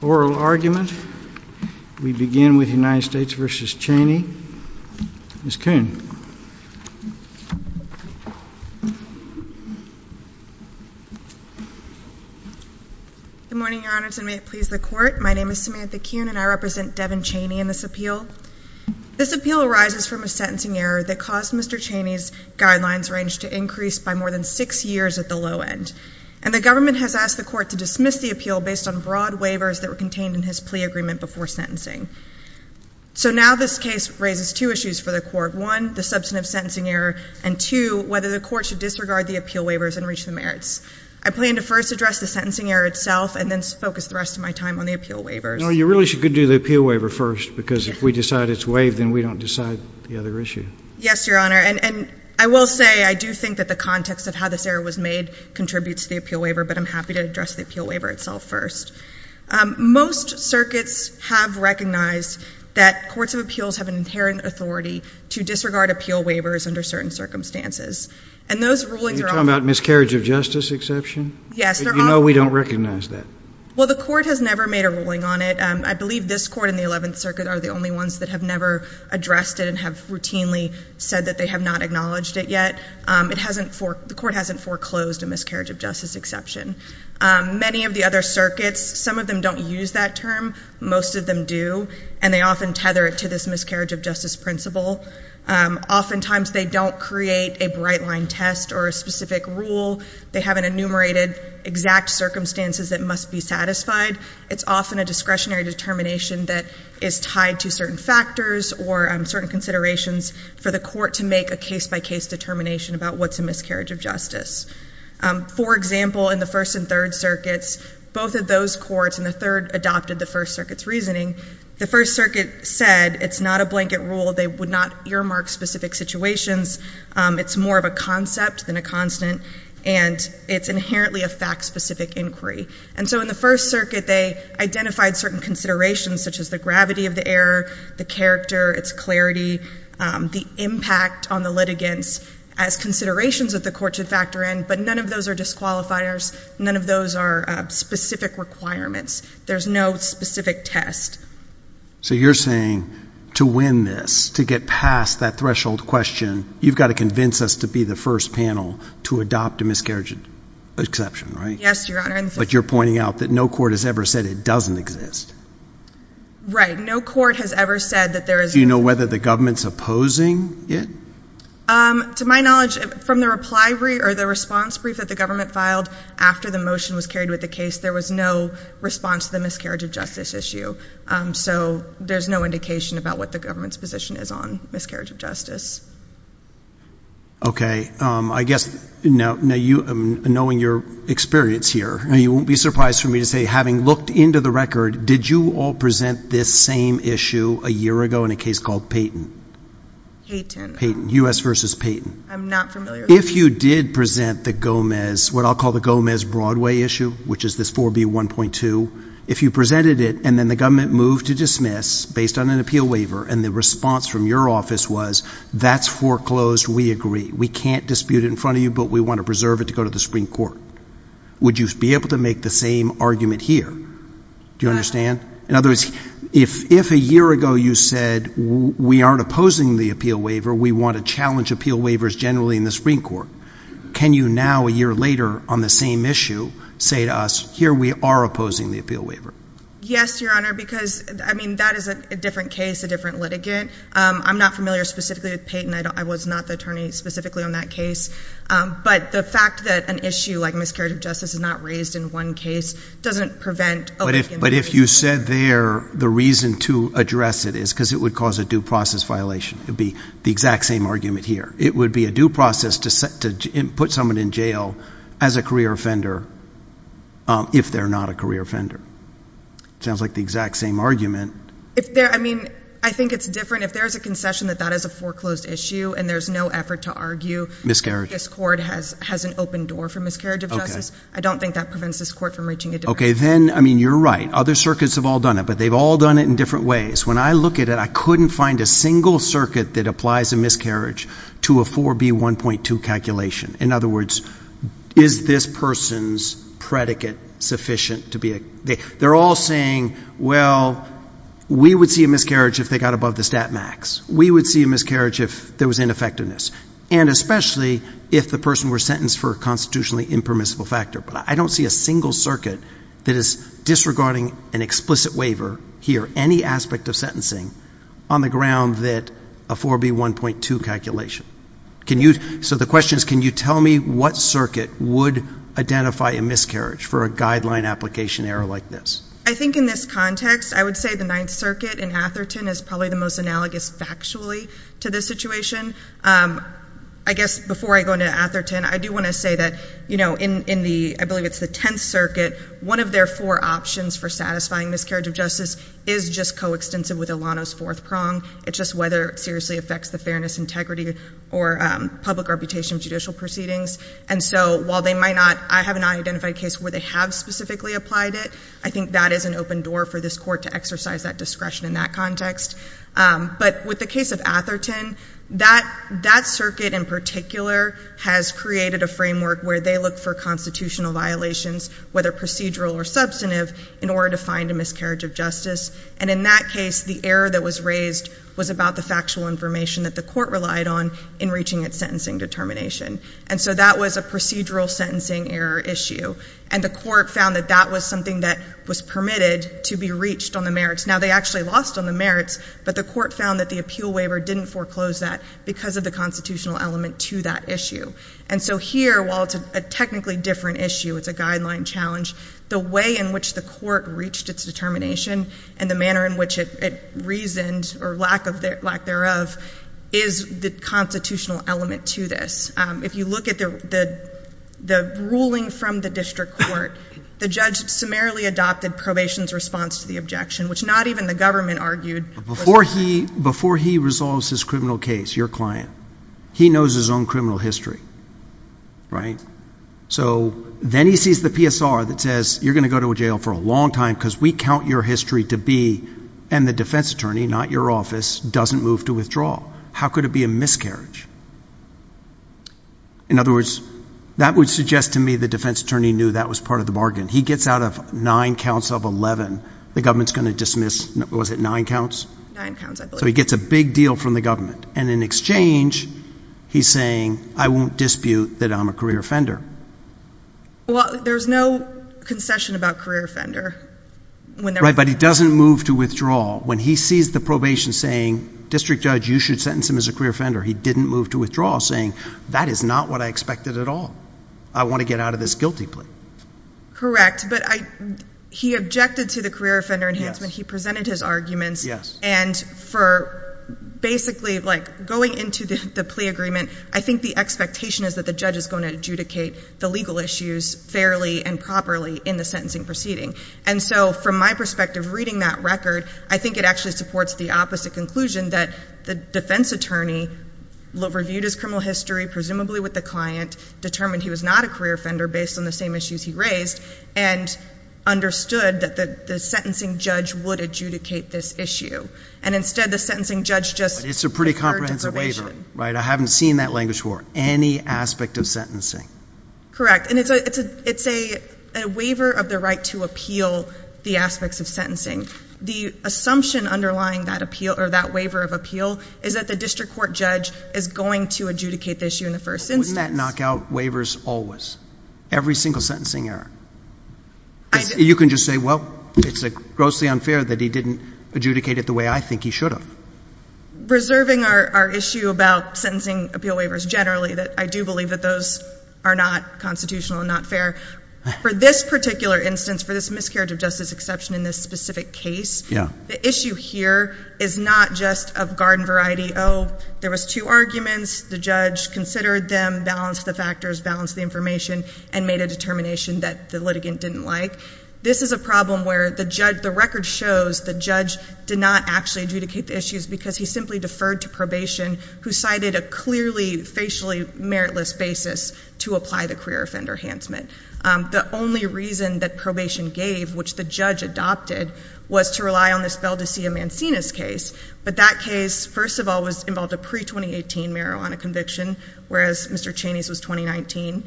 oral argument. We begin with United States v. Chaney. Ms. Kuhn. Good morning, Your Honors, and may it please the Court. My name is Samantha Kuhn, and I represent Devin Chaney in this appeal. This appeal arises from a sentencing error that caused Mr. Chaney's guidelines range to increase by more than six years at the low end, and the government has asked the Court to dismiss the appeal based on broad waivers that were contained in his plea agreement before sentencing. So now this case raises two issues for the Court. One, the substantive sentencing error, and two, whether the Court should disregard the appeal waivers and reach the merits. I plan to first address the sentencing error itself and then focus the rest of my time on the appeal waivers. No, you really should do the appeal waiver first, because if we decide it's waived, then we don't decide the other issue. Yes, Your Honor, and I will say I do think that the context of how this error was made contributes to the appeal waiver, but I'm happy to address the appeal waiver itself first. Most circuits have recognized that courts of appeals have an inherent authority to disregard appeal waivers under certain circumstances, and those rulings are often Are you talking about miscarriage of justice exception? Yes, they're often — But you know we don't recognize that. Well, the Court has never made a ruling on it. I believe this Court and the Eleventh Circuit are the only ones that have never addressed it and have routinely said that they have not acknowledged it yet. It hasn't — the Court hasn't foreclosed a miscarriage of justice exception. Many of the other circuits, some of them don't use that term. Most of them do, and they often tether it to this miscarriage of justice principle. Oftentimes they don't create a bright-line test or a specific rule. They have an enumerated exact circumstances that must be satisfied. It's often a discretionary determination that is a case-by-case determination about what's a miscarriage of justice. For example, in the First and Third Circuits, both of those courts — and the Third adopted the First Circuit's reasoning — the First Circuit said it's not a blanket rule. They would not earmark specific situations. It's more of a concept than a constant, and it's inherently a fact-specific inquiry. And so in the First Circuit, they identified certain considerations, such as the gravity of the error, the character, its clarity, the impact on the litigants, as considerations that the Court should factor in. But none of those are disqualifiers. None of those are specific requirements. There's no specific test. So you're saying to win this, to get past that threshold question, you've got to convince us to be the first panel to adopt a miscarriage exception, right? Yes, Your Honor. But you're pointing out that no court has ever said it doesn't exist. Right. No court has ever said that there is — Do you know whether the government's opposing it? To my knowledge, from the reply brief — or the response brief that the government filed after the motion was carried with the case, there was no response to the miscarriage of justice issue. So there's no indication about what the government's position is on miscarriage of justice. Okay. I guess — now, you — knowing your experience here, you won't be surprised for me to say, having looked into the record, did you all present this same issue a year ago in a case called Payton? Payton. Payton. U.S. v. Payton. I'm not familiar — If you did present the Gomez — what I'll call the Gomez-Broadway issue, which is this 4B1.2, if you presented it, and then the government moved to dismiss, based on an appeal waiver, and the response from your office was, that's foreclosed, we agree, we can't dispute it in front of you, but we want to preserve it to go to the Supreme Court, would you be able to make the same argument here? Do you understand? But — In other words, if a year ago you said, we aren't opposing the appeal waiver, we want to challenge appeal waivers generally in the Supreme Court, can you now, a year later, on the same issue, say to us, here we are opposing the appeal waiver? Yes, Your Honor, because, I mean, that is a different case, a different litigant. I'm not familiar specifically with Payton. I was not the attorney specifically on that case. But the fact that an issue like miscarriage of justice is not raised in one case doesn't prevent — But if you said there, the reason to address it is because it would cause a due process violation. It would be the exact same argument here. It would be a due process to put someone in jail as a career offender, if they're not a career offender. Sounds like the exact same argument. If there — I mean, I think it's different. If there's a concession that that is a foreclosed issue, and there's no effort to argue — Miscarriage. — this court has an open door for miscarriage of justice, I don't think that prevents this court from reaching a — Okay, then, I mean, you're right. Other circuits have all done it, but they've all done it in different ways. When I look at it, I couldn't find a single circuit that applies a miscarriage to a 4B1.2 calculation. In other words, is this person's predicate sufficient to be a — they're all saying, well, we would see a miscarriage if they got above the stat max. We would see a miscarriage if there was ineffectiveness, and especially if the person were sentenced for a constitutionally impermissible factor. But I don't see a single circuit that is disregarding an explicit waiver here, any aspect of sentencing, on the ground that a 4B1.2 calculation. Can you — so the question is, can you tell me what circuit would identify a miscarriage for a guideline application error like this? I think in this context, I would say the Ninth Circuit in Atherton is probably the most analogous factually to this situation. I guess before I go into Atherton, I do want to say that, you know, in the — I believe it's the Tenth Circuit, one of their four options for satisfying miscarriage of justice is just coextensive with Ilano's fourth prong. It's just whether it seriously affects the fairness, integrity, or public reputation of judicial proceedings. And so while they might not — I have not identified a case where they have specifically applied it. I think that is an open door for this court to exercise that discretion in that context. But with the case of Atherton, that circuit in particular has created a framework where they look for constitutional violations, whether procedural or substantive, in order to find a miscarriage of justice. And in that case, the error that was raised was about the factual information that the court relied on in reaching its sentencing determination. And so that was a procedural sentencing error issue. And the court found that that was something that was permitted to be reached on the merits. Now, they actually lost on the merits, but the court found that the appeal waiver didn't foreclose that because of the constitutional element to that issue. And so here, while it's a technically different issue, it's a guideline challenge, the way in which the court reached its determination and the manner in which it reasoned, or lack thereof, is the constitutional element to this. If you look at the ruling from the district court, the judge summarily adopted probation's response to the objection, which not even the government argued was necessary. Before he resolves his criminal case, your client, he knows his own criminal history, right? So then he sees the PSR that says, you're going to go to a jail for a long time because we count your history to be, and the defense attorney, not your office, doesn't move to withdraw. How could it be a miscarriage? In other words, that would suggest to me the defense attorney knew that was part of the bargain. He gets out of nine counts of 11, the government's going to dismiss, was it nine counts? Nine counts, I believe. So he gets a big deal from the government. And in exchange, he's saying, I won't dispute that I'm a career offender. Well, there's no concession about career offender. Right, but he doesn't move to withdraw. When he sees the probation saying, district judge, you should sentence him as a career offender, he didn't move to withdraw, saying, that is not what I expected at all. I want to get out of this guilty plea. Correct, but he objected to the career offender enhancement. He presented his arguments. Yes. And for basically going into the plea agreement, I think the expectation is that the judge is going to adjudicate the legal issues fairly and properly in the sentencing proceeding. And so from my perspective, reading that record, I think it actually supports the opposite conclusion that the defense attorney reviewed his criminal history, presumably with the client, determined he was not a career offender based on the same issues he raised, and understood that the sentencing judge would adjudicate this issue. And instead, the sentencing judge just deferred deprivation. Right, I haven't seen that language before. Any aspect of sentencing. Correct, and it's a waiver of the right to appeal the aspects of sentencing. The assumption underlying that appeal, or that waiver of appeal, is that the district court judge is going to adjudicate the issue in the first instance. Wouldn't that knock out waivers always? Every single sentencing error. I didn't. You can just say, well, it's grossly unfair that he didn't adjudicate it the way I think he should have. Reserving our issue about sentencing appeal waivers generally, that I do believe that those are not constitutional and not fair. For this particular instance, for this miscarriage of justice exception in this specific case, the issue here is not just of garden variety. Oh, there was two arguments. The judge considered them, balanced the factors, balanced the information, and made a determination that the litigant didn't like. This is a problem where the record shows the judge did not actually adjudicate the issues because he simply deferred to probation, who cited a clearly, facially meritless basis to apply the queer offender handsmit. The only reason that probation gave, which the judge adopted, was to rely on this Bell De Sia Mancinas case. But that case, first of all, was involved in pre-2018 marijuana conviction, whereas Mr. Chaney's was 2019.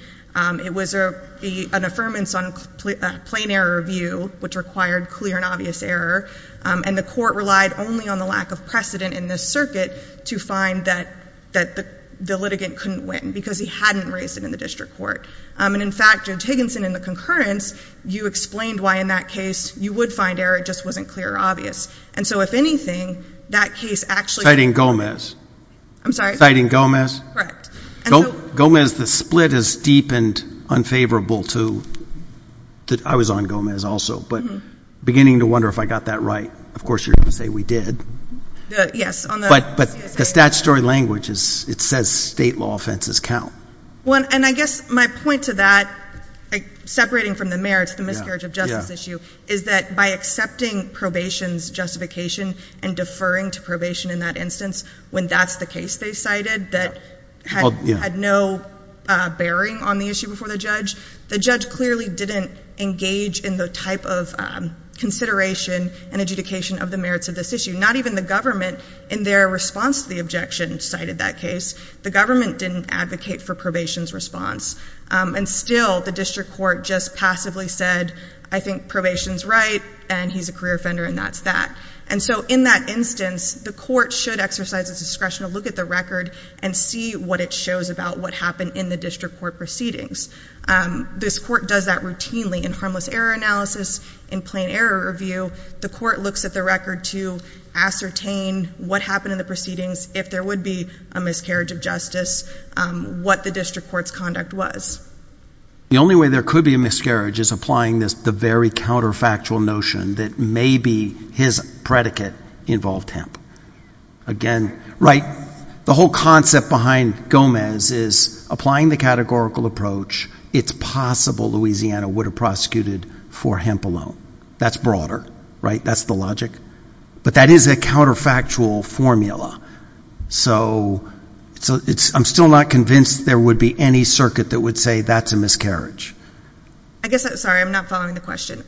It was an affirmance on plain error review, which required clear and obvious error, and the court relied only on the lack of precedent in this circuit to find that the litigant couldn't win because he hadn't raised it in the district court. And in fact, Judge Higginson, in the concurrence, you explained why in that case you would find error, it just wasn't clear or obvious. And so, if anything, that case actually— Citing Gomez. I'm sorry? Citing Gomez. Correct. Gomez, the split is deep and unfavorable to—I was on Gomez also, but beginning to wonder if I got that right. Of course, you're going to say we did. Yes. But the statutory language, it says state law offenses count. Well, and I guess my point to that, separating from the merits, the miscarriage of justice issue, is that by accepting probation's justification and deferring to probation in that instance, when that's the case they cited that had no bearing on the issue before the judge, the judge clearly didn't engage in the type of consideration and adjudication of the merits of this issue. Not even the government, in their response to the objection, cited that case. The government didn't advocate for probation's response. And still, the district court just passively said, I think probation's right, and he's a career offender, and that's that. And so, in that instance, the court should exercise its discretion to look at the record and see what it shows about what happened in the district court proceedings. This court does that routinely in harmless error analysis, in plain error review. The court looks at the record to ascertain what happened in the proceedings, if there would be a miscarriage of justice, what the district court's conduct was. The only way there could be a miscarriage is applying the very counterfactual notion that maybe his predicate involved hemp. The whole concept behind Gomez is applying the categorical approach, it's possible Louisiana would have prosecuted for hemp alone. That's broader. That's the logic. But that is a counterfactual formula. So, I'm still not convinced there would be any circuit that would say that's a miscarriage. I guess, sorry, I'm not following the question.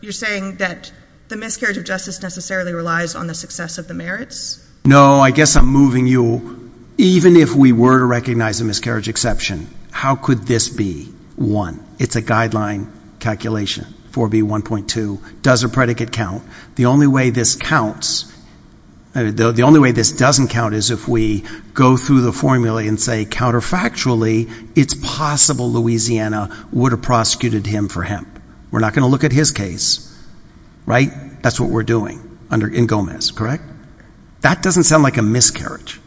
You're saying that the miscarriage of justice necessarily relies on the success of the merits? No, I guess I'm moving you, even if we were to recognize a miscarriage exception, how could this be one? It's a guideline calculation, 4B1.2. Does a predicate count? The only way this counts, the only way this doesn't count is if we go through the formula and say, counterfactually, it's possible Louisiana would have prosecuted him for hemp. We're not going to look at his case, right? That's what we're doing in Gomez, correct? That doesn't sound like a miscarriage.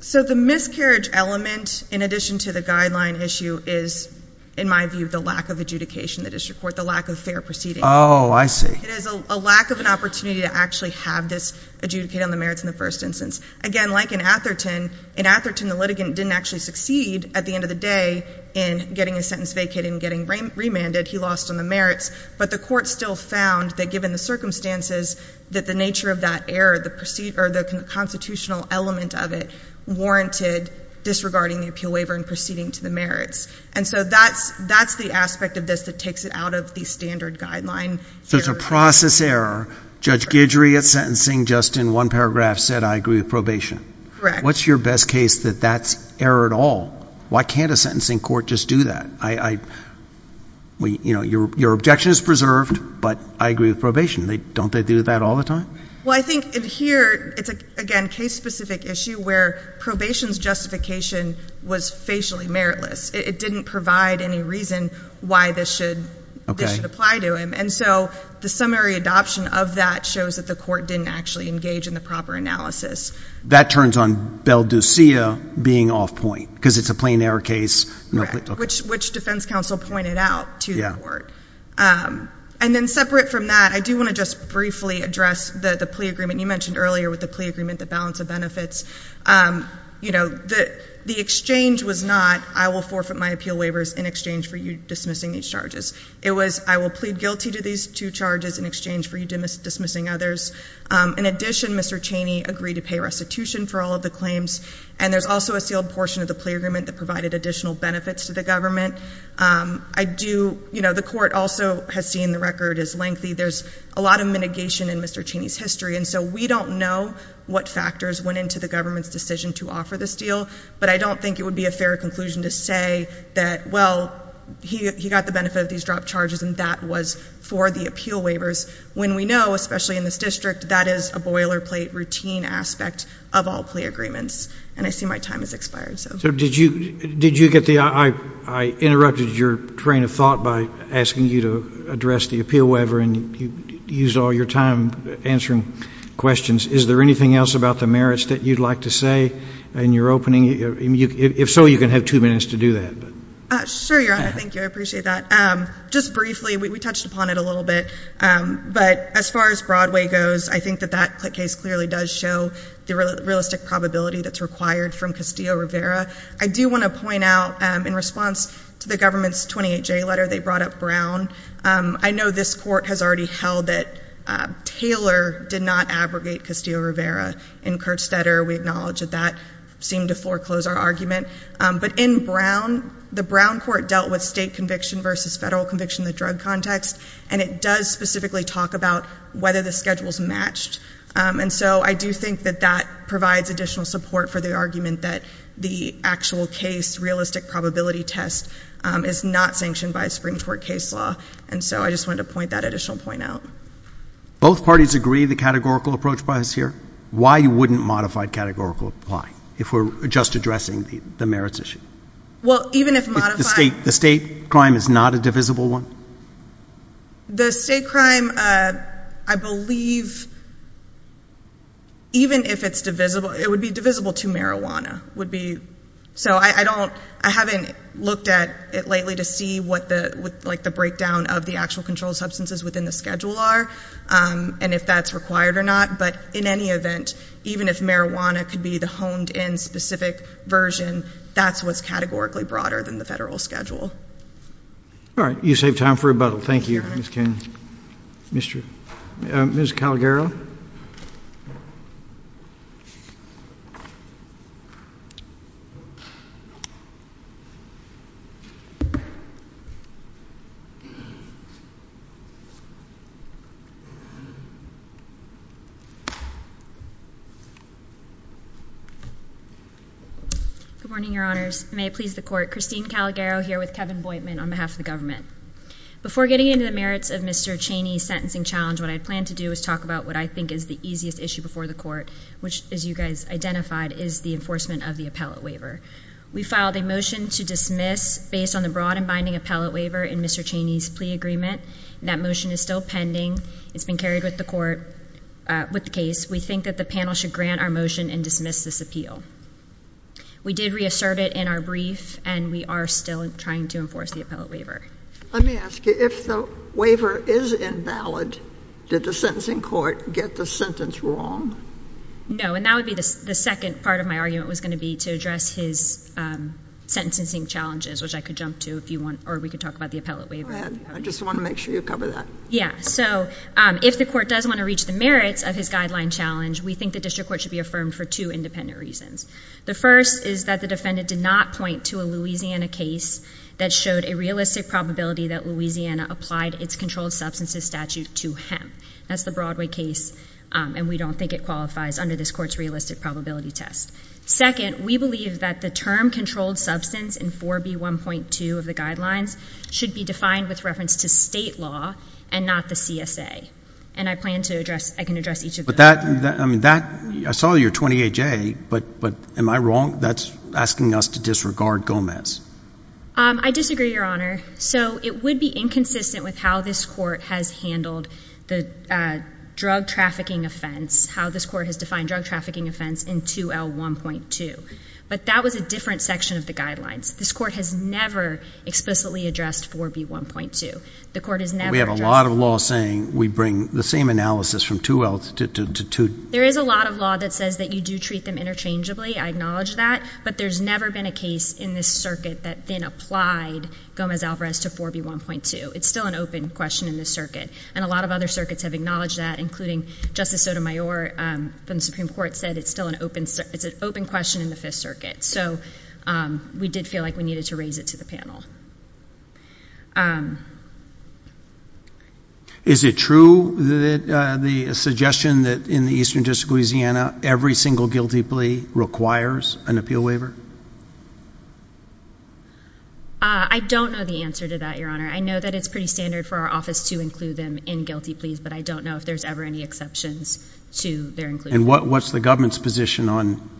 So, the miscarriage element, in addition to the guideline issue, is, in my view, the lack of adjudication in the district court, the lack of fair proceedings. Oh, I see. It is a lack of an opportunity to actually have this adjudicated on the merits in the first instance. Again, like in Atherton, in Atherton, the litigant didn't actually succeed, at the end of the day, in getting his sentence vacated and getting remanded. He lost on the merits. But the court still found that, given the circumstances, that the nature of that error, the constitutional element of it, warranted disregarding the appeal waiver and proceeding to the merits. And so that's the aspect of this that takes it out of the standard guideline. So it's a process error. Judge Guidry, at sentencing, just in one paragraph, said, I agree with probation. Correct. What's your best case that that's error at all? Why can't a sentencing court just do that? Your objection is preserved, but I agree with probation. Don't they do that all the time? Well, I think in here, it's, again, a case-specific issue where probation's justification was facially meritless. It didn't provide any reason why this should apply to him. And so the summary adoption of that shows that the court didn't actually engage in the proper analysis. That turns on Beldusia being off point, because it's a plain error case. Correct, which defense counsel pointed out to the court. And then separate from that, I do want to just briefly address the plea agreement. You mentioned earlier with the plea agreement, the balance of benefits. The exchange was not, I will forfeit my appeal waivers in exchange for you dismissing these charges. It was, I will plead guilty to these two charges in exchange for you dismissing others. In addition, Mr. Chaney agreed to pay restitution for all of the claims. And there's also a sealed portion of the plea agreement that provided additional benefits to the government. I do, you know, the court also has seen the record is lengthy. There's a lot of mitigation in Mr. Chaney's history. And so we don't know what factors went into the government's decision to offer this deal. But I don't think it would be a fair conclusion to say that, well, he got the benefit of these dropped charges, and that was for the appeal waivers, when we know, especially in this district, that is a boilerplate routine aspect of all plea agreements. And I see my time has expired. So did you get the, I interrupted your train of thought by asking you to address the appeal waiver, and you used all your time answering questions. Is there anything else about the merits that you'd like to say in your opening? If so, you can have two minutes to do that. Sure, Your Honor. Thank you. I appreciate that. Just briefly, we touched upon it a little bit. But as far as Broadway goes, I think that that case clearly does show the realistic probability that's required from Castillo-Rivera. I do want to point out, in response to the government's 28-J letter, they brought up Brown. I know this court has already held that Taylor did not abrogate Castillo-Rivera. In Kerstetter, we acknowledge that that seemed to foreclose our argument. But in Brown, the Brown court dealt with state conviction versus federal conviction in the drug context. And it does specifically talk about whether the schedule's matched. And so I do think that that provides additional support for the argument that the actual case realistic probability test is not sanctioned by a Supreme Court case law. And so I just wanted to point that additional point out. Both parties agree the categorical approach applies here? Why wouldn't modified categorical apply if we're just addressing the merits issue? Well, even if modified... The state crime is not a divisible one? The state crime, I believe, even if it's divisible, it would be divisible to marijuana. So I haven't looked at it lately to see what the breakdown of the actual controlled substances within the schedule are and if that's required or not. But in any event, even if marijuana could be the combination of lawsuits and convictions, having modified any statute and requiring the case to medially follow the true procedure I imagine wouldn't be consistent with a controlled substance schedule. All right. You saved time for rebuttal. Thank you. All right. Good morning, Your Honors. May it please the court. Christine Calagaro here with Kevin Boydman on behalf of the merits of Mr. Cheney's sentencing challenge. What I plan to do is talk about what I think is the easiest issue before the court, which, as you guys identified, is the enforcement of the appellate waiver. We filed a motion to dismiss based on the broad and binding appellate waiver in Mr. Cheney's plea agreement. That motion is still pending. It's been carried with the court with the case. We think that the panel should grant our motion and dismiss this appeal. We did reassert it in our brief, and we are still trying to enforce the appellate waiver. Let me ask you, if the waiver is invalid, did the sentencing court get the sentence wrong? No, and that would be the second part of my argument was going to be to address his sentencing challenges, which I could jump to if you want, or we could talk about the appellate waiver. Go ahead. I just want to make sure you cover that. Yeah, so if the court does want to reach the merits of his guideline challenge, we think the district court should be affirmed for two independent reasons. The first is that the defendant did not point to a Louisiana case that showed a realistic probability that Louisiana applied its controlled substances statute to him. That's the Broadway case, and we don't think it qualifies under this court's realistic probability test. Second, we believe that the term controlled substance in 4B1.2 of the guidelines should be defined with reference to state law and not the CSA, and I plan to address, I can address each of those. But that, I saw your 28A, but am I wrong? That's asking us to disregard Gomez. I disagree, Your Honor. So it would be inconsistent with how this court has handled the drug trafficking offense, how this court has defined drug trafficking offense in 2L1.2. But that was a different section of the guidelines. This court has never explicitly addressed 4B1.2. We have a lot of law saying we bring the same analysis from 2L to 2. There is a lot of law that says that you do treat them interchangeably. I acknowledge that. But there's never been a case in this circuit that then applied Gomez-Alvarez to 4B1.2. It's still an open question in this circuit, and a lot of other circuits have acknowledged that, including Justice Sotomayor from the Supreme Court said it's still an open question in the Fifth Circuit. So we did feel like we needed to raise it to the panel. Is it true that the suggestion that in the Eastern District of Louisiana, every single guilty plea requires an appeal waiver? I don't know the answer to that, Your Honor. I know that it's pretty standard for our office to include them in guilty pleas, but I don't know if there's ever any exceptions to their inclusion. And what's the government's position on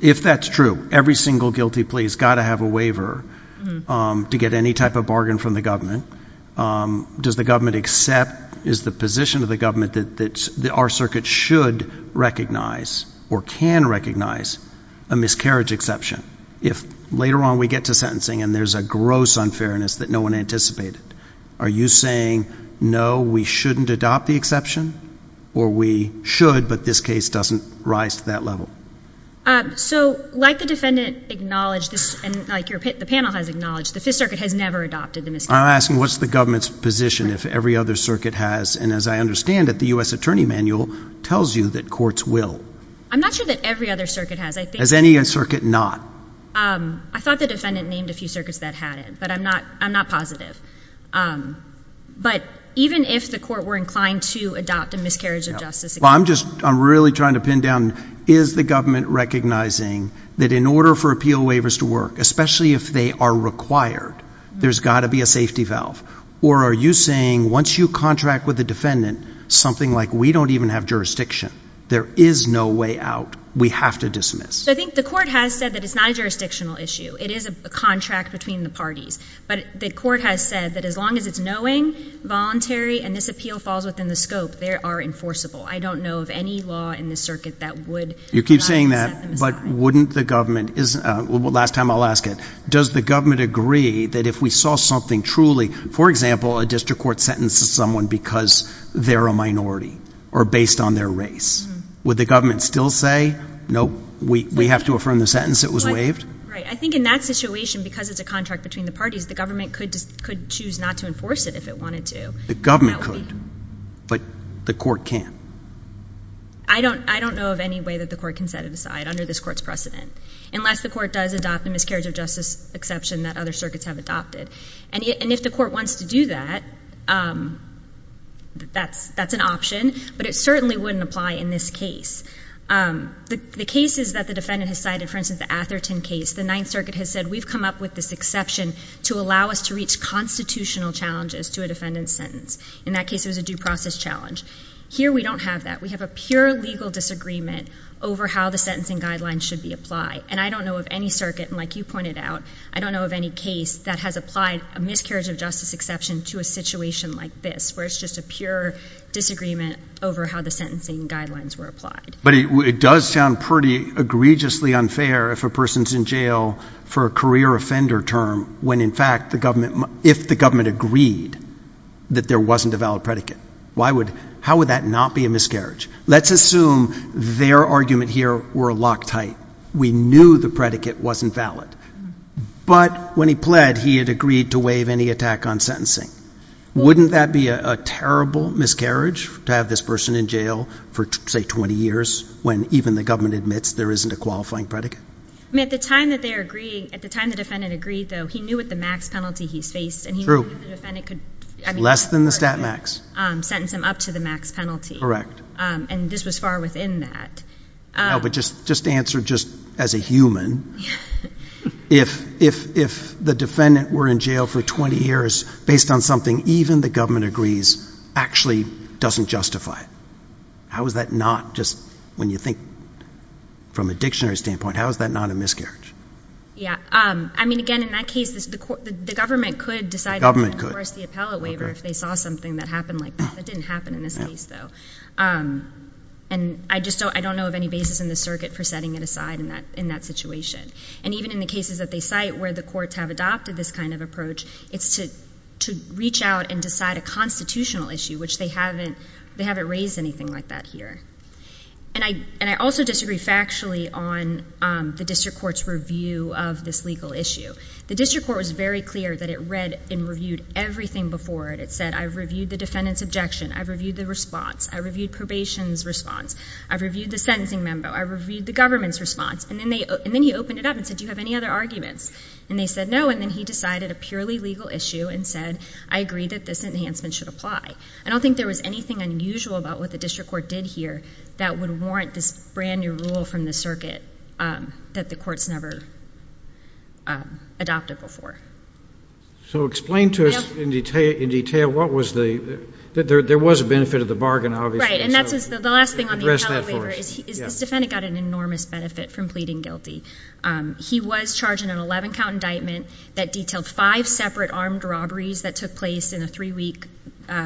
if that's true, every single guilty plea has got to have a waiver to get any type of bargain from the government? Does the government accept, is the position of the government that our circuit should recognize or can recognize a miscarriage exception if later on we get to sentencing and there's a gross unfairness that no one anticipated? Are you saying, no, we shouldn't adopt the exception, or we should, but this case doesn't rise to that level? So like the defendant acknowledged, and like the panel has acknowledged, the Fifth Circuit has never adopted the miscarriage. I'm asking what's the government's position if every other circuit has, and as I understand it, the U.S. Attorney Manual tells you that courts will. I'm not sure that every other circuit has. Has any circuit not? I thought the defendant named a few circuits that had it, but I'm not positive. But even if the court were inclined to adopt a miscarriage of justice exception. I'm really trying to pin down, is the government recognizing that in order for appeal waivers to work, especially if they are required, there's got to be a safety valve? Or are you saying once you contract with the defendant, something like we don't even have jurisdiction? There is no way out. We have to dismiss. I think the court has said that it's not a jurisdictional issue. It is a contract between the parties. But the court has said that as long as it's knowing, voluntary, and this appeal falls within the scope, they are enforceable. I don't know of any law in the circuit that would not set them aside. Last time I'll ask it, does the government agree that if we saw something truly, for example, a district court sentences someone because they're a minority or based on their race, would the government still say, nope, we have to affirm the sentence, it was waived? I think in that situation, because it's a contract between the parties, the government could choose not to enforce it if it wanted to. The government could, but the court can't. I don't know of any way that the court can set it aside under this court's precedent, unless the court does adopt the miscarriage of justice exception that other circuits have adopted. And if the court wants to do that, that's an option. But it certainly wouldn't apply in this case. The cases that the defendant has cited, for instance, the Atherton case, the Ninth Circuit has said, we've come up with this exception to allow us to reach constitutional challenges to a defendant's sentence. In that case it was a due process challenge. Here we don't have that. We have a pure legal disagreement over how the sentencing guidelines should be applied. And I don't know of any circuit, and like you pointed out, I don't know of any case that has applied a miscarriage of justice exception to a situation like this, where it's just a pure disagreement over how the sentencing guidelines were applied. But it does sound pretty egregiously unfair if a person's in jail for a career offender term when, in fact, if the government agreed that there wasn't a valid predicate. How would that not be a miscarriage? Let's assume their argument here were locked tight. We knew the predicate wasn't valid. But when he pled, he had agreed to waive any attack on sentencing. Wouldn't that be a terrible miscarriage to have this person in jail for, say, 20 years when even the government admits there isn't a qualifying predicate? At the time the defendant agreed, though, he knew what the max penalty he's faced. Less than the stat max. Correct. And this was far within that. No, but just answer just as a human. If the defendant were in jail for 20 years based on something even the government agrees actually doesn't justify it, how is that not just, when you think from a dictionary standpoint, how is that not a miscarriage? Yeah. I mean, again, in that case, the government could decide to enforce the appellate waiver if they saw something that happened like that. That didn't happen in this case, though. And I just don't know of any basis in the circuit for setting it aside in that situation. And even in the cases that they cite where the courts have adopted this kind of approach, it's to reach out and decide a constitutional issue, which they haven't raised anything like that here. And I also disagree factually on the district court's review of this legal issue. The district court was very clear that it read and reviewed everything before it. It said, I've reviewed the defendant's objection, I've reviewed the response, I've reviewed probation's response, I've reviewed the sentencing member, I've reviewed the government's response. And then he opened it up and said, do you have any other arguments? And they said no, and then he decided a purely legal issue and said, I agree that this enhancement should apply. I don't think there was anything unusual about what the district court did here that would warrant this brand-new rule from the circuit that the courts never adopted before. So explain to us in detail what was the ñ there was a benefit of the bargain, obviously. Right, and that's the last thing on the appellate waiver is this defendant got an enormous benefit from pleading guilty. He was charged in an 11-count indictment that detailed five separate armed robberies that took place in a three-week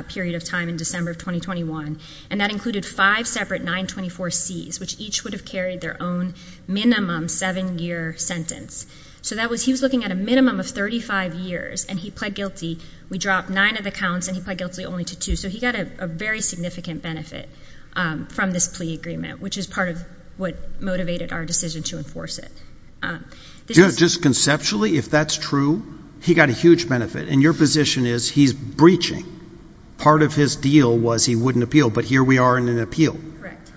period of time in December of 2021, and that included five separate 924Cs, which each would have carried their own minimum seven-year sentence. So he was looking at a minimum of 35 years, and he pled guilty. We dropped nine of the counts, and he pled guilty only to two. So he got a very significant benefit from this plea agreement, which is part of what motivated our decision to enforce it. Just conceptually, if that's true, he got a huge benefit, and your position is he's breaching. Part of his deal was he wouldn't appeal, but here we are in an appeal.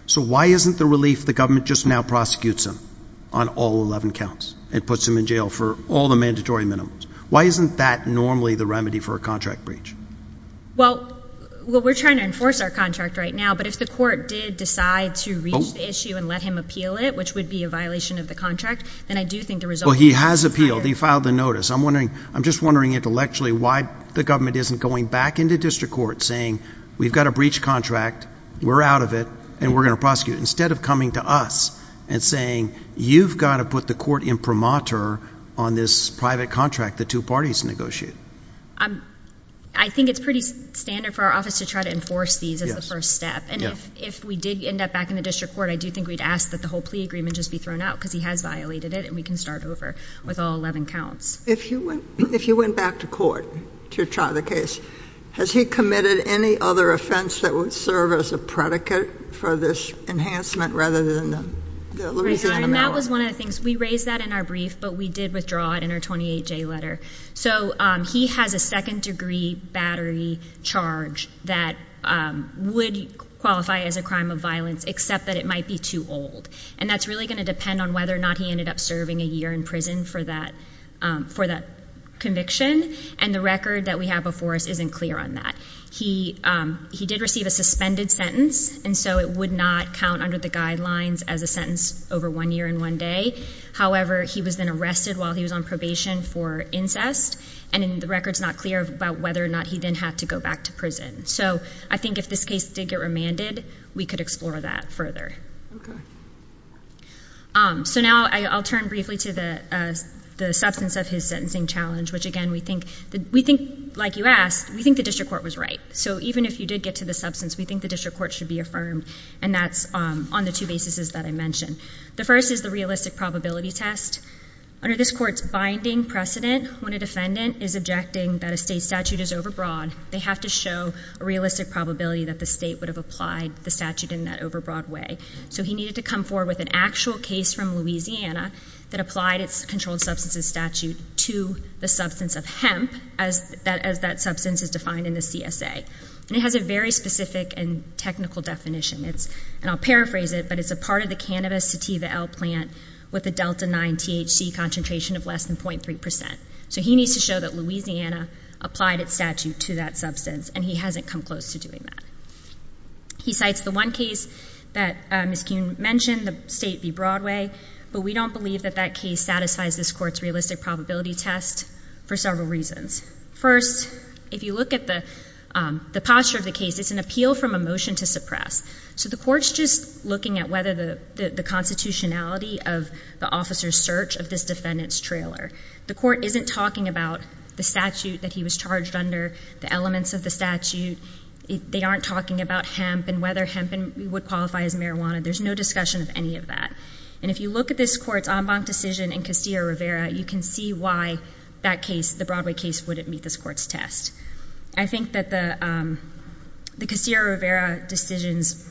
So why isn't the relief the government just now prosecutes him on all 11 counts and puts him in jail for all the mandatory minimums? Why isn't that normally the remedy for a contract breach? Well, we're trying to enforce our contract right now, but if the court did decide to reach the issue and let him appeal it, which would be a violation of the contract, then I do think the result would be— Well, he has appealed. He filed the notice. I'm just wondering intellectually why the government isn't going back into district court saying, we've got a breach contract, we're out of it, and we're going to prosecute it, instead of coming to us and saying, you've got to put the court imprimatur on this private contract the two parties negotiated. I think it's pretty standard for our office to try to enforce these as the first step. And if we did end up back in the district court, I do think we'd ask that the whole plea agreement just be thrown out, because he has violated it, and we can start over with all 11 counts. If he went back to court to try the case, has he committed any other offense that would serve as a predicate for this enhancement rather than the— We raised that in our brief, but we did withdraw it in our 28-J letter. So he has a second-degree battery charge that would qualify as a crime of violence, except that it might be too old. And that's really going to depend on whether or not he ended up serving a year in prison for that conviction, and the record that we have before us isn't clear on that. He did receive a suspended sentence, and so it would not count under the guidelines as a sentence over one year and one day. However, he was then arrested while he was on probation for incest, and the record's not clear about whether or not he then had to go back to prison. So I think if this case did get remanded, we could explore that further. So now I'll turn briefly to the substance of his sentencing challenge, which, again, we think, like you asked, we think the district court was right. So even if you did get to the substance, we think the district court should be affirmed, and that's on the two bases that I mentioned. The first is the realistic probability test. Under this court's binding precedent, when a defendant is objecting that a state statute is overbroad, they have to show a realistic probability that the state would have applied the statute in that overbroad way. So he needed to come forward with an actual case from Louisiana that applied its controlled substances statute to the substance of hemp, as that substance is defined in the CSA. And it has a very specific and technical definition. And I'll paraphrase it, but it's a part of the cannabis sativa L plant with a delta 9 THC concentration of less than 0.3 percent. So he needs to show that Louisiana applied its statute to that substance, and he hasn't come close to doing that. He cites the one case that Ms. Kuhn mentioned, the State v. Broadway, but we don't believe that that case satisfies this court's realistic probability test for several reasons. First, if you look at the posture of the case, it's an appeal from a motion to suppress. So the court's just looking at whether the constitutionality of the officer's search of this defendant's trailer. The court isn't talking about the statute that he was charged under, the elements of the statute. They aren't talking about hemp and whether hemp would qualify as marijuana. There's no discussion of any of that. And if you look at this court's en banc decision in Castillo-Rivera, you can see why that case, the Broadway case, wouldn't meet this court's test. I think that the Castillo-Rivera decision's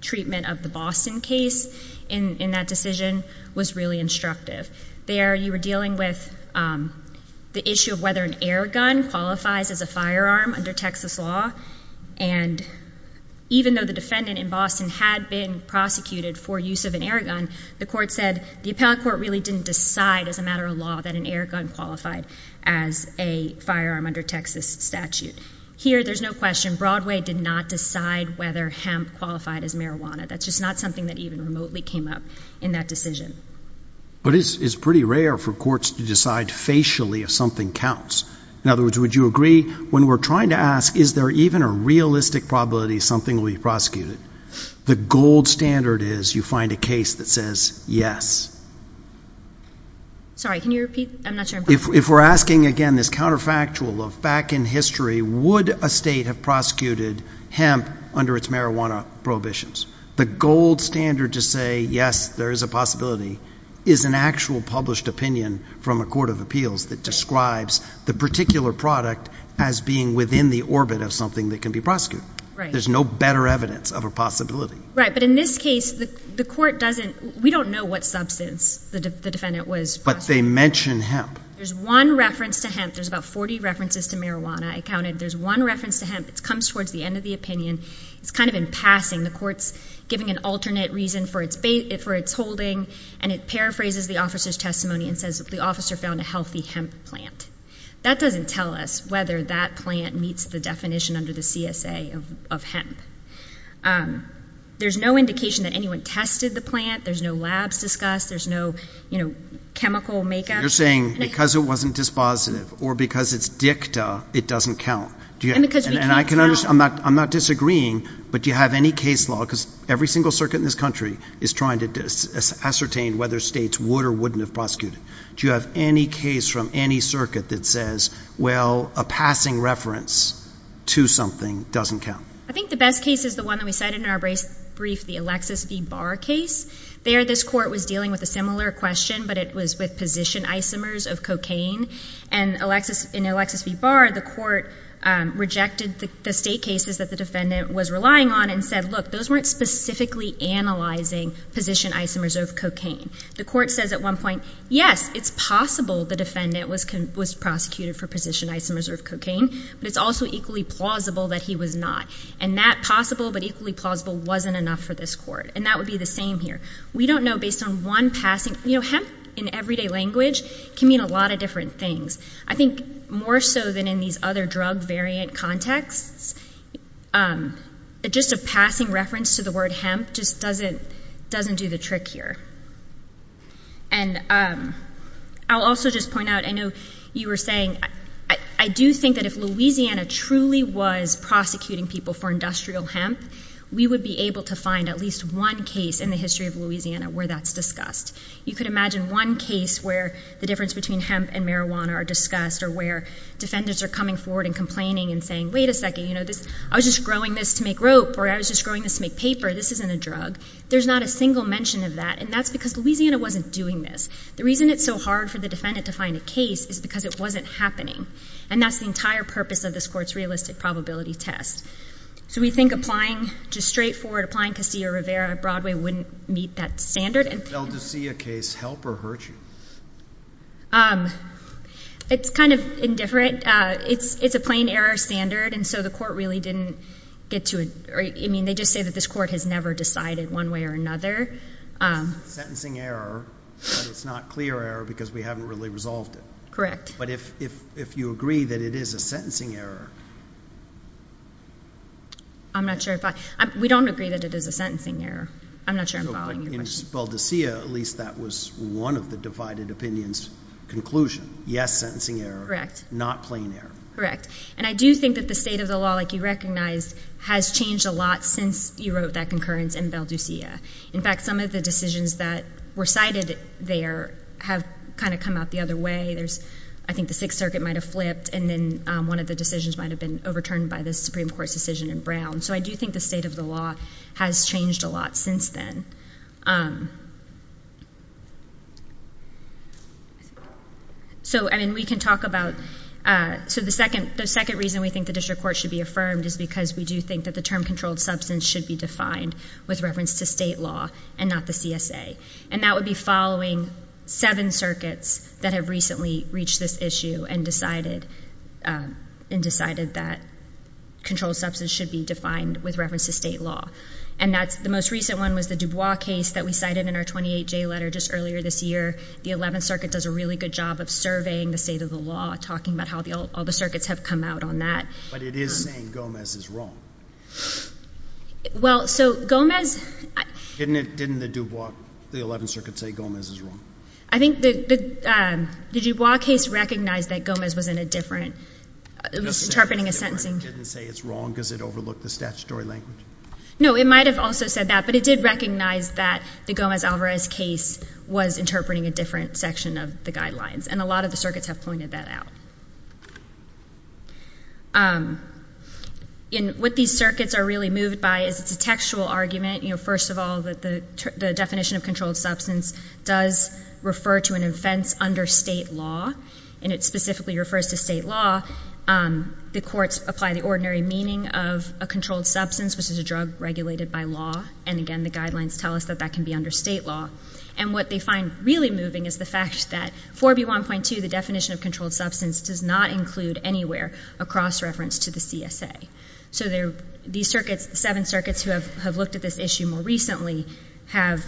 treatment of the Boston case in that decision was really instructive. There you were dealing with the issue of whether an air gun qualifies as a firearm under Texas law, and even though the defendant in Boston had been prosecuted for use of an air gun, the court said the appellate court really didn't decide as a matter of law that an air gun qualified as a firearm under Texas statute. Here there's no question. Broadway did not decide whether hemp qualified as marijuana. That's just not something that even remotely came up in that decision. But it's pretty rare for courts to decide facially if something counts. In other words, would you agree when we're trying to ask is there even a realistic probability something will be prosecuted, the gold standard is you find a case that says yes. Sorry, can you repeat? I'm not sure I'm hearing you. If we're asking again this counterfactual of back in history, would a state have prosecuted hemp under its marijuana prohibitions? The gold standard to say yes, there is a possibility, is an actual published opinion from a court of appeals that describes the particular product as being within the orbit of something that can be prosecuted. There's no better evidence of a possibility. Right, but in this case, the court doesn't, we don't know what substance the defendant was prosecuted for. But they mention hemp. There's one reference to hemp. There's about 40 references to marijuana accounted. There's one reference to hemp. It comes towards the end of the opinion. It's kind of in passing. The court's giving an alternate reason for its holding, and it paraphrases the officer's testimony and says the officer found a healthy hemp plant. That doesn't tell us whether that plant meets the definition under the CSA of hemp. There's no indication that anyone tested the plant. There's no labs discussed. There's no, you know, chemical makeup. You're saying because it wasn't dispositive or because it's dicta, it doesn't count. And because we can't tell. I'm not disagreeing, but do you have any case law, because every single circuit in this country is trying to ascertain whether states would or wouldn't have prosecuted. Do you have any case from any circuit that says, well, a passing reference to something doesn't count? I think the best case is the one that we cited in our brief, the Alexis V. Barr case. There, this court was dealing with a similar question, but it was with position isomers of cocaine. And in Alexis V. Barr, the court rejected the state cases that the defendant was relying on and said, look, those weren't specifically analyzing position isomers of cocaine. The court says at one point, yes, it's possible the defendant was prosecuted for position isomers of cocaine, but it's also equally plausible that he was not. And that possible but equally plausible wasn't enough for this court. And that would be the same here. We don't know based on one passing. You know, hemp in everyday language can mean a lot of different things. I think more so than in these other drug variant contexts, just a passing reference to the word hemp just doesn't do the trick here. And I'll also just point out, I know you were saying, I do think that if Louisiana truly was prosecuting people for industrial hemp, we would be able to find at least one case in the history of Louisiana where that's discussed. You could imagine one case where the difference between hemp and marijuana are discussed or where defendants are coming forward and complaining and saying, wait a second, you know, I was just growing this to make rope or I was just growing this to make paper. This isn't a drug. There's not a single mention of that, and that's because Louisiana wasn't doing this. The reason it's so hard for the defendant to find a case is because it wasn't happening. And that's the entire purpose of this court's realistic probability test. So we think applying, just straightforward, applying Casilla-Rivera-Broadway wouldn't meet that standard. Would the Valdezilla case help or hurt you? It's kind of indifferent. It's a plain error standard, and so the court really didn't get to it. I mean, they just say that this court has never decided one way or another. It's a sentencing error, but it's not a clear error because we haven't really resolved it. Correct. But if you agree that it is a sentencing error. I'm not sure. We don't agree that it is a sentencing error. I'm not sure I'm following your question. In Valdezilla, at least that was one of the divided opinions conclusion. Yes, sentencing error. Correct. Not plain error. Correct. And I do think that the state of the law, like you recognized, has changed a lot since you wrote that concurrence in Valdezilla. In fact, some of the decisions that were cited there have kind of come out the other way. I think the Sixth Circuit might have flipped, and then one of the decisions might have been overturned by the Supreme Court's decision in Brown. So I do think the state of the law has changed a lot since then. So, I mean, we can talk about the second reason we think the district court should be affirmed is because we do think that the term controlled substance should be defined with reference to state law and not the CSA, and that would be following seven circuits that have recently reached this issue and decided that controlled substance should be defined with reference to state law. And the most recent one was the Dubois case that we cited in our 28-J letter just earlier this year. The Eleventh Circuit does a really good job of surveying the state of the law, talking about how all the circuits have come out on that. But it is saying Gomez is wrong. Well, so Gomez – Didn't the Dubois – the Eleventh Circuit say Gomez is wrong? I think the Dubois case recognized that Gomez was in a different – was interpreting a sentencing. It didn't say it's wrong because it overlooked the statutory language? No, it might have also said that, but it did recognize that the Gomez-Alvarez case was interpreting a different section of the guidelines, and a lot of the circuits have pointed that out. What these circuits are really moved by is it's a textual argument. First of all, the definition of controlled substance does refer to an offense under state law, and it specifically refers to state law. The courts apply the ordinary meaning of a controlled substance, which is a drug regulated by law, and, again, the guidelines tell us that that can be under state law. And what they find really moving is the fact that 4B1.2, the definition of controlled substance, does not include anywhere a cross-reference to the CSA. So these circuits, seven circuits who have looked at this issue more recently, have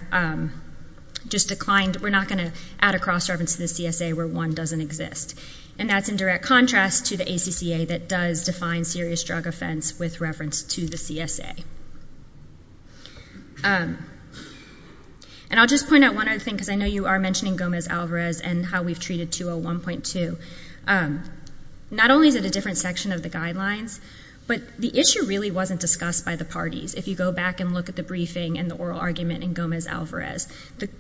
just declined – we're not going to add a cross-reference to the CSA where 1 doesn't exist. And that's in direct contrast to the ACCA that does define serious drug offense with reference to the CSA. And I'll just point out one other thing because I know you are mentioning Gomez-Alvarez and how we've treated 201.2. Not only is it a different section of the guidelines, but the issue really wasn't discussed by the parties. If you go back and look at the briefing and the oral argument in Gomez-Alvarez,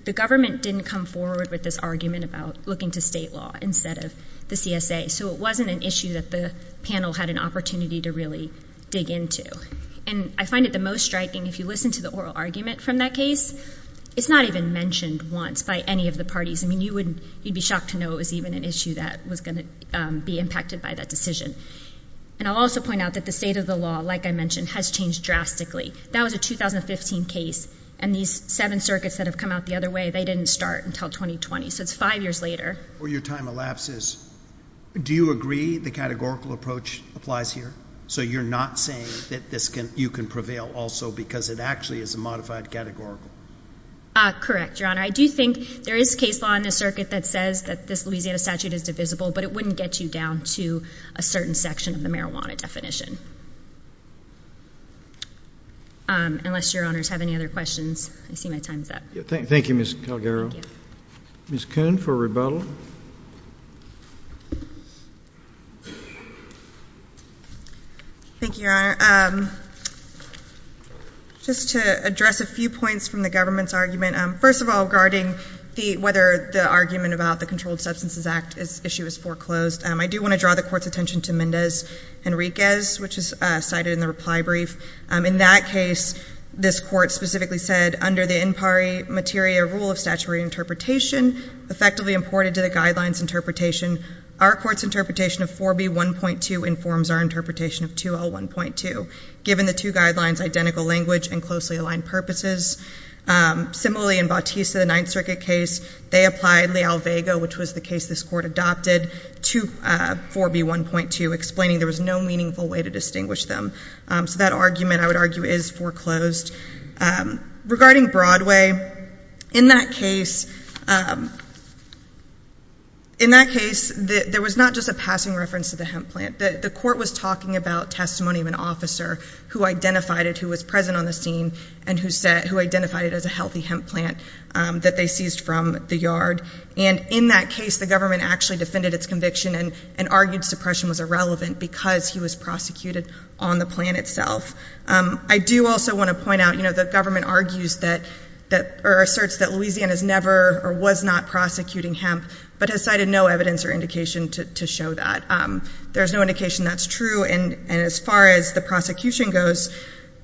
the government didn't come forward with this argument about looking to state law instead of the CSA. So it wasn't an issue that the panel had an opportunity to really dig into. And I find it the most striking if you listen to the oral argument from that case, it's not even mentioned once by any of the parties. I mean, you'd be shocked to know it was even an issue that was going to be impacted by that decision. And I'll also point out that the state of the law, like I mentioned, has changed drastically. That was a 2015 case, and these seven circuits that have come out the other way, they didn't start until 2020, so it's five years later. Before your time elapses, do you agree the categorical approach applies here? So you're not saying that you can prevail also because it actually is a modified categorical? Correct, Your Honor. I do think there is case law in this circuit that says that this Louisiana statute is divisible, but it wouldn't get you down to a certain section of the marijuana definition. Unless Your Honors have any other questions, I see my time is up. Thank you, Ms. Calgaro. Ms. Coon for rebuttal. Thank you, Your Honor. Just to address a few points from the government's argument, first of all regarding whether the argument about the Controlled Substances Act issue is foreclosed, I do want to draw the Court's attention to Mendez-Henriquez, which is cited in the reply brief. In that case, this Court specifically said, under the in pari materia rule of statutory interpretation, effectively imported to the guidelines interpretation, our Court's interpretation of 4B.1.2 informs our interpretation of 2L.1.2. Given the two guidelines' identical language and closely aligned purposes. Similarly, in Bautista, the Ninth Circuit case, they applied Leal-Vega, which was the case this Court adopted, to 4B.1.2, explaining there was no meaningful way to distinguish them. So that argument, I would argue, is foreclosed. Regarding Broadway, in that case, there was not just a passing reference to the hemp plant. The Court was talking about testimony of an officer who identified it, who was present on the scene, and who identified it as a healthy hemp plant that they seized from the yard. And in that case, the government actually defended its conviction and argued suppression was irrelevant because he was prosecuted on the plant itself. I do also want to point out, you know, the government argues that, or asserts that Louisiana has never or was not prosecuting hemp, but has cited no evidence or indication to show that. There's no indication that's true. And as far as the prosecution goes,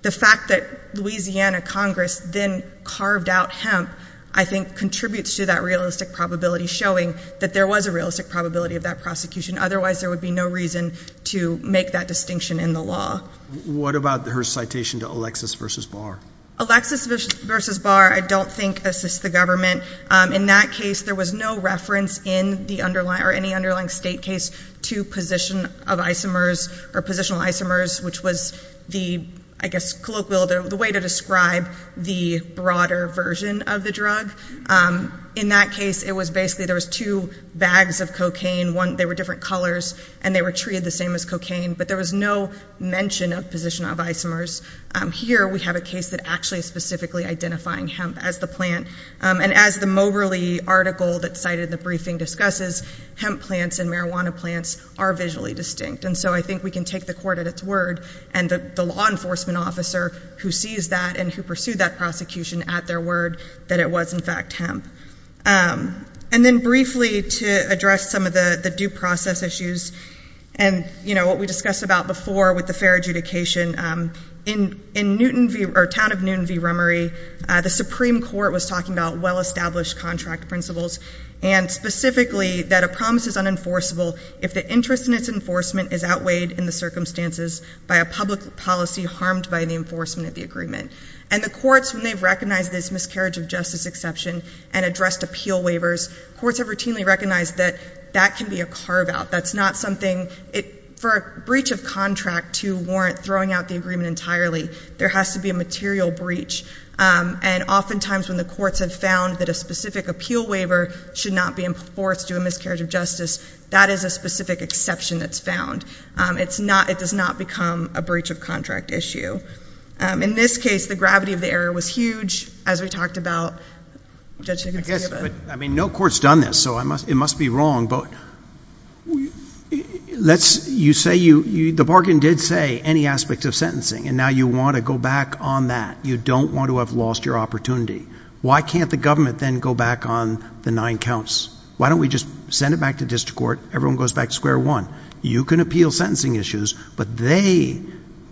the fact that Louisiana Congress then carved out hemp, I think contributes to that realistic probability showing that there was a realistic probability of that prosecution. Otherwise, there would be no reason to make that distinction in the law. What about her citation to Alexis v. Barr? Alexis v. Barr, I don't think, assists the government. In that case, there was no reference in the underlying or any underlying state case to position of isomers or positional isomers, which was the, I guess, colloquial, the way to describe the broader version of the drug. In that case, it was basically there was two bags of cocaine. One, they were different colors, and they were treated the same as cocaine. But there was no mention of position of isomers. Here, we have a case that actually is specifically identifying hemp as the plant. And as the Moberly article that's cited in the briefing discusses, hemp plants and marijuana plants are visually distinct. And so I think we can take the court at its word and the law enforcement officer who sees that and who pursued that prosecution at their word that it was, in fact, hemp. And then briefly, to address some of the due process issues and, you know, what we discussed about before with the fair adjudication, in Newton v. or town of Newton v. Rummery, the Supreme Court was talking about well-established contract principles and specifically that a promise is unenforceable if the interest in its enforcement is outweighed in the circumstances by a public policy harmed by the enforcement of the agreement. And the courts, when they've recognized this miscarriage of justice exception and addressed appeal waivers, courts have routinely recognized that that can be a carve-out. That's not something for a breach of contract to warrant throwing out the agreement entirely. There has to be a material breach. And oftentimes when the courts have found that a specific appeal waiver should not be enforced due to a miscarriage of justice, that is a specific exception that's found. It does not become a breach of contract issue. In this case, the gravity of the error was huge, as we talked about. I guess, I mean, no court's done this, so it must be wrong, but let's, you say you, the bargain did say any aspect of sentencing, and now you want to go back on that. You don't want to have lost your opportunity. Why can't the government then go back on the nine counts? Why don't we just send it back to district court? Everyone goes back to square one. You can appeal sentencing issues, but they,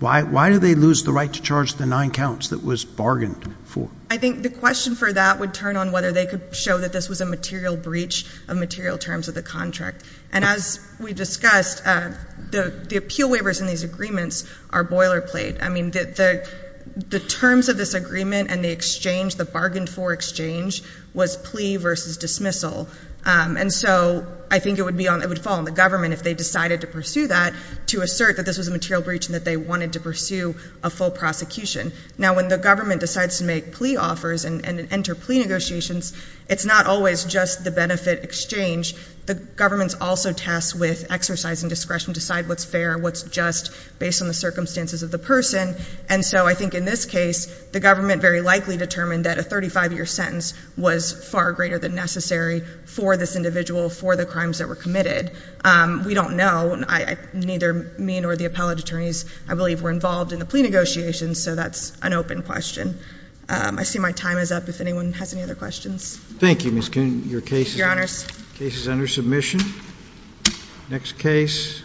why do they lose the right to charge the nine counts that was bargained for? I think the question for that would turn on whether they could show that this was a material breach of material terms of the contract. And as we discussed, the appeal waivers in these agreements are boilerplate. I mean, the terms of this agreement and the exchange, the bargained for exchange, was plea versus dismissal. And so I think it would fall on the government if they decided to pursue that to assert that this was a material breach and that they wanted to pursue a full prosecution. Now, when the government decides to make plea offers and enter plea negotiations, it's not always just the benefit exchange. The government's also tasked with exercising discretion to decide what's fair, what's just, based on the circumstances of the person. And so I think in this case, the government very likely determined that a 35-year sentence was far greater than necessary for this individual, for the crimes that were committed. We don't know. Neither me nor the appellate attorneys, I believe, were involved in the plea negotiations, so that's an open question. I see my time is up. If anyone has any other questions. Thank you, Ms. Coon. Your case is under submission. Next case.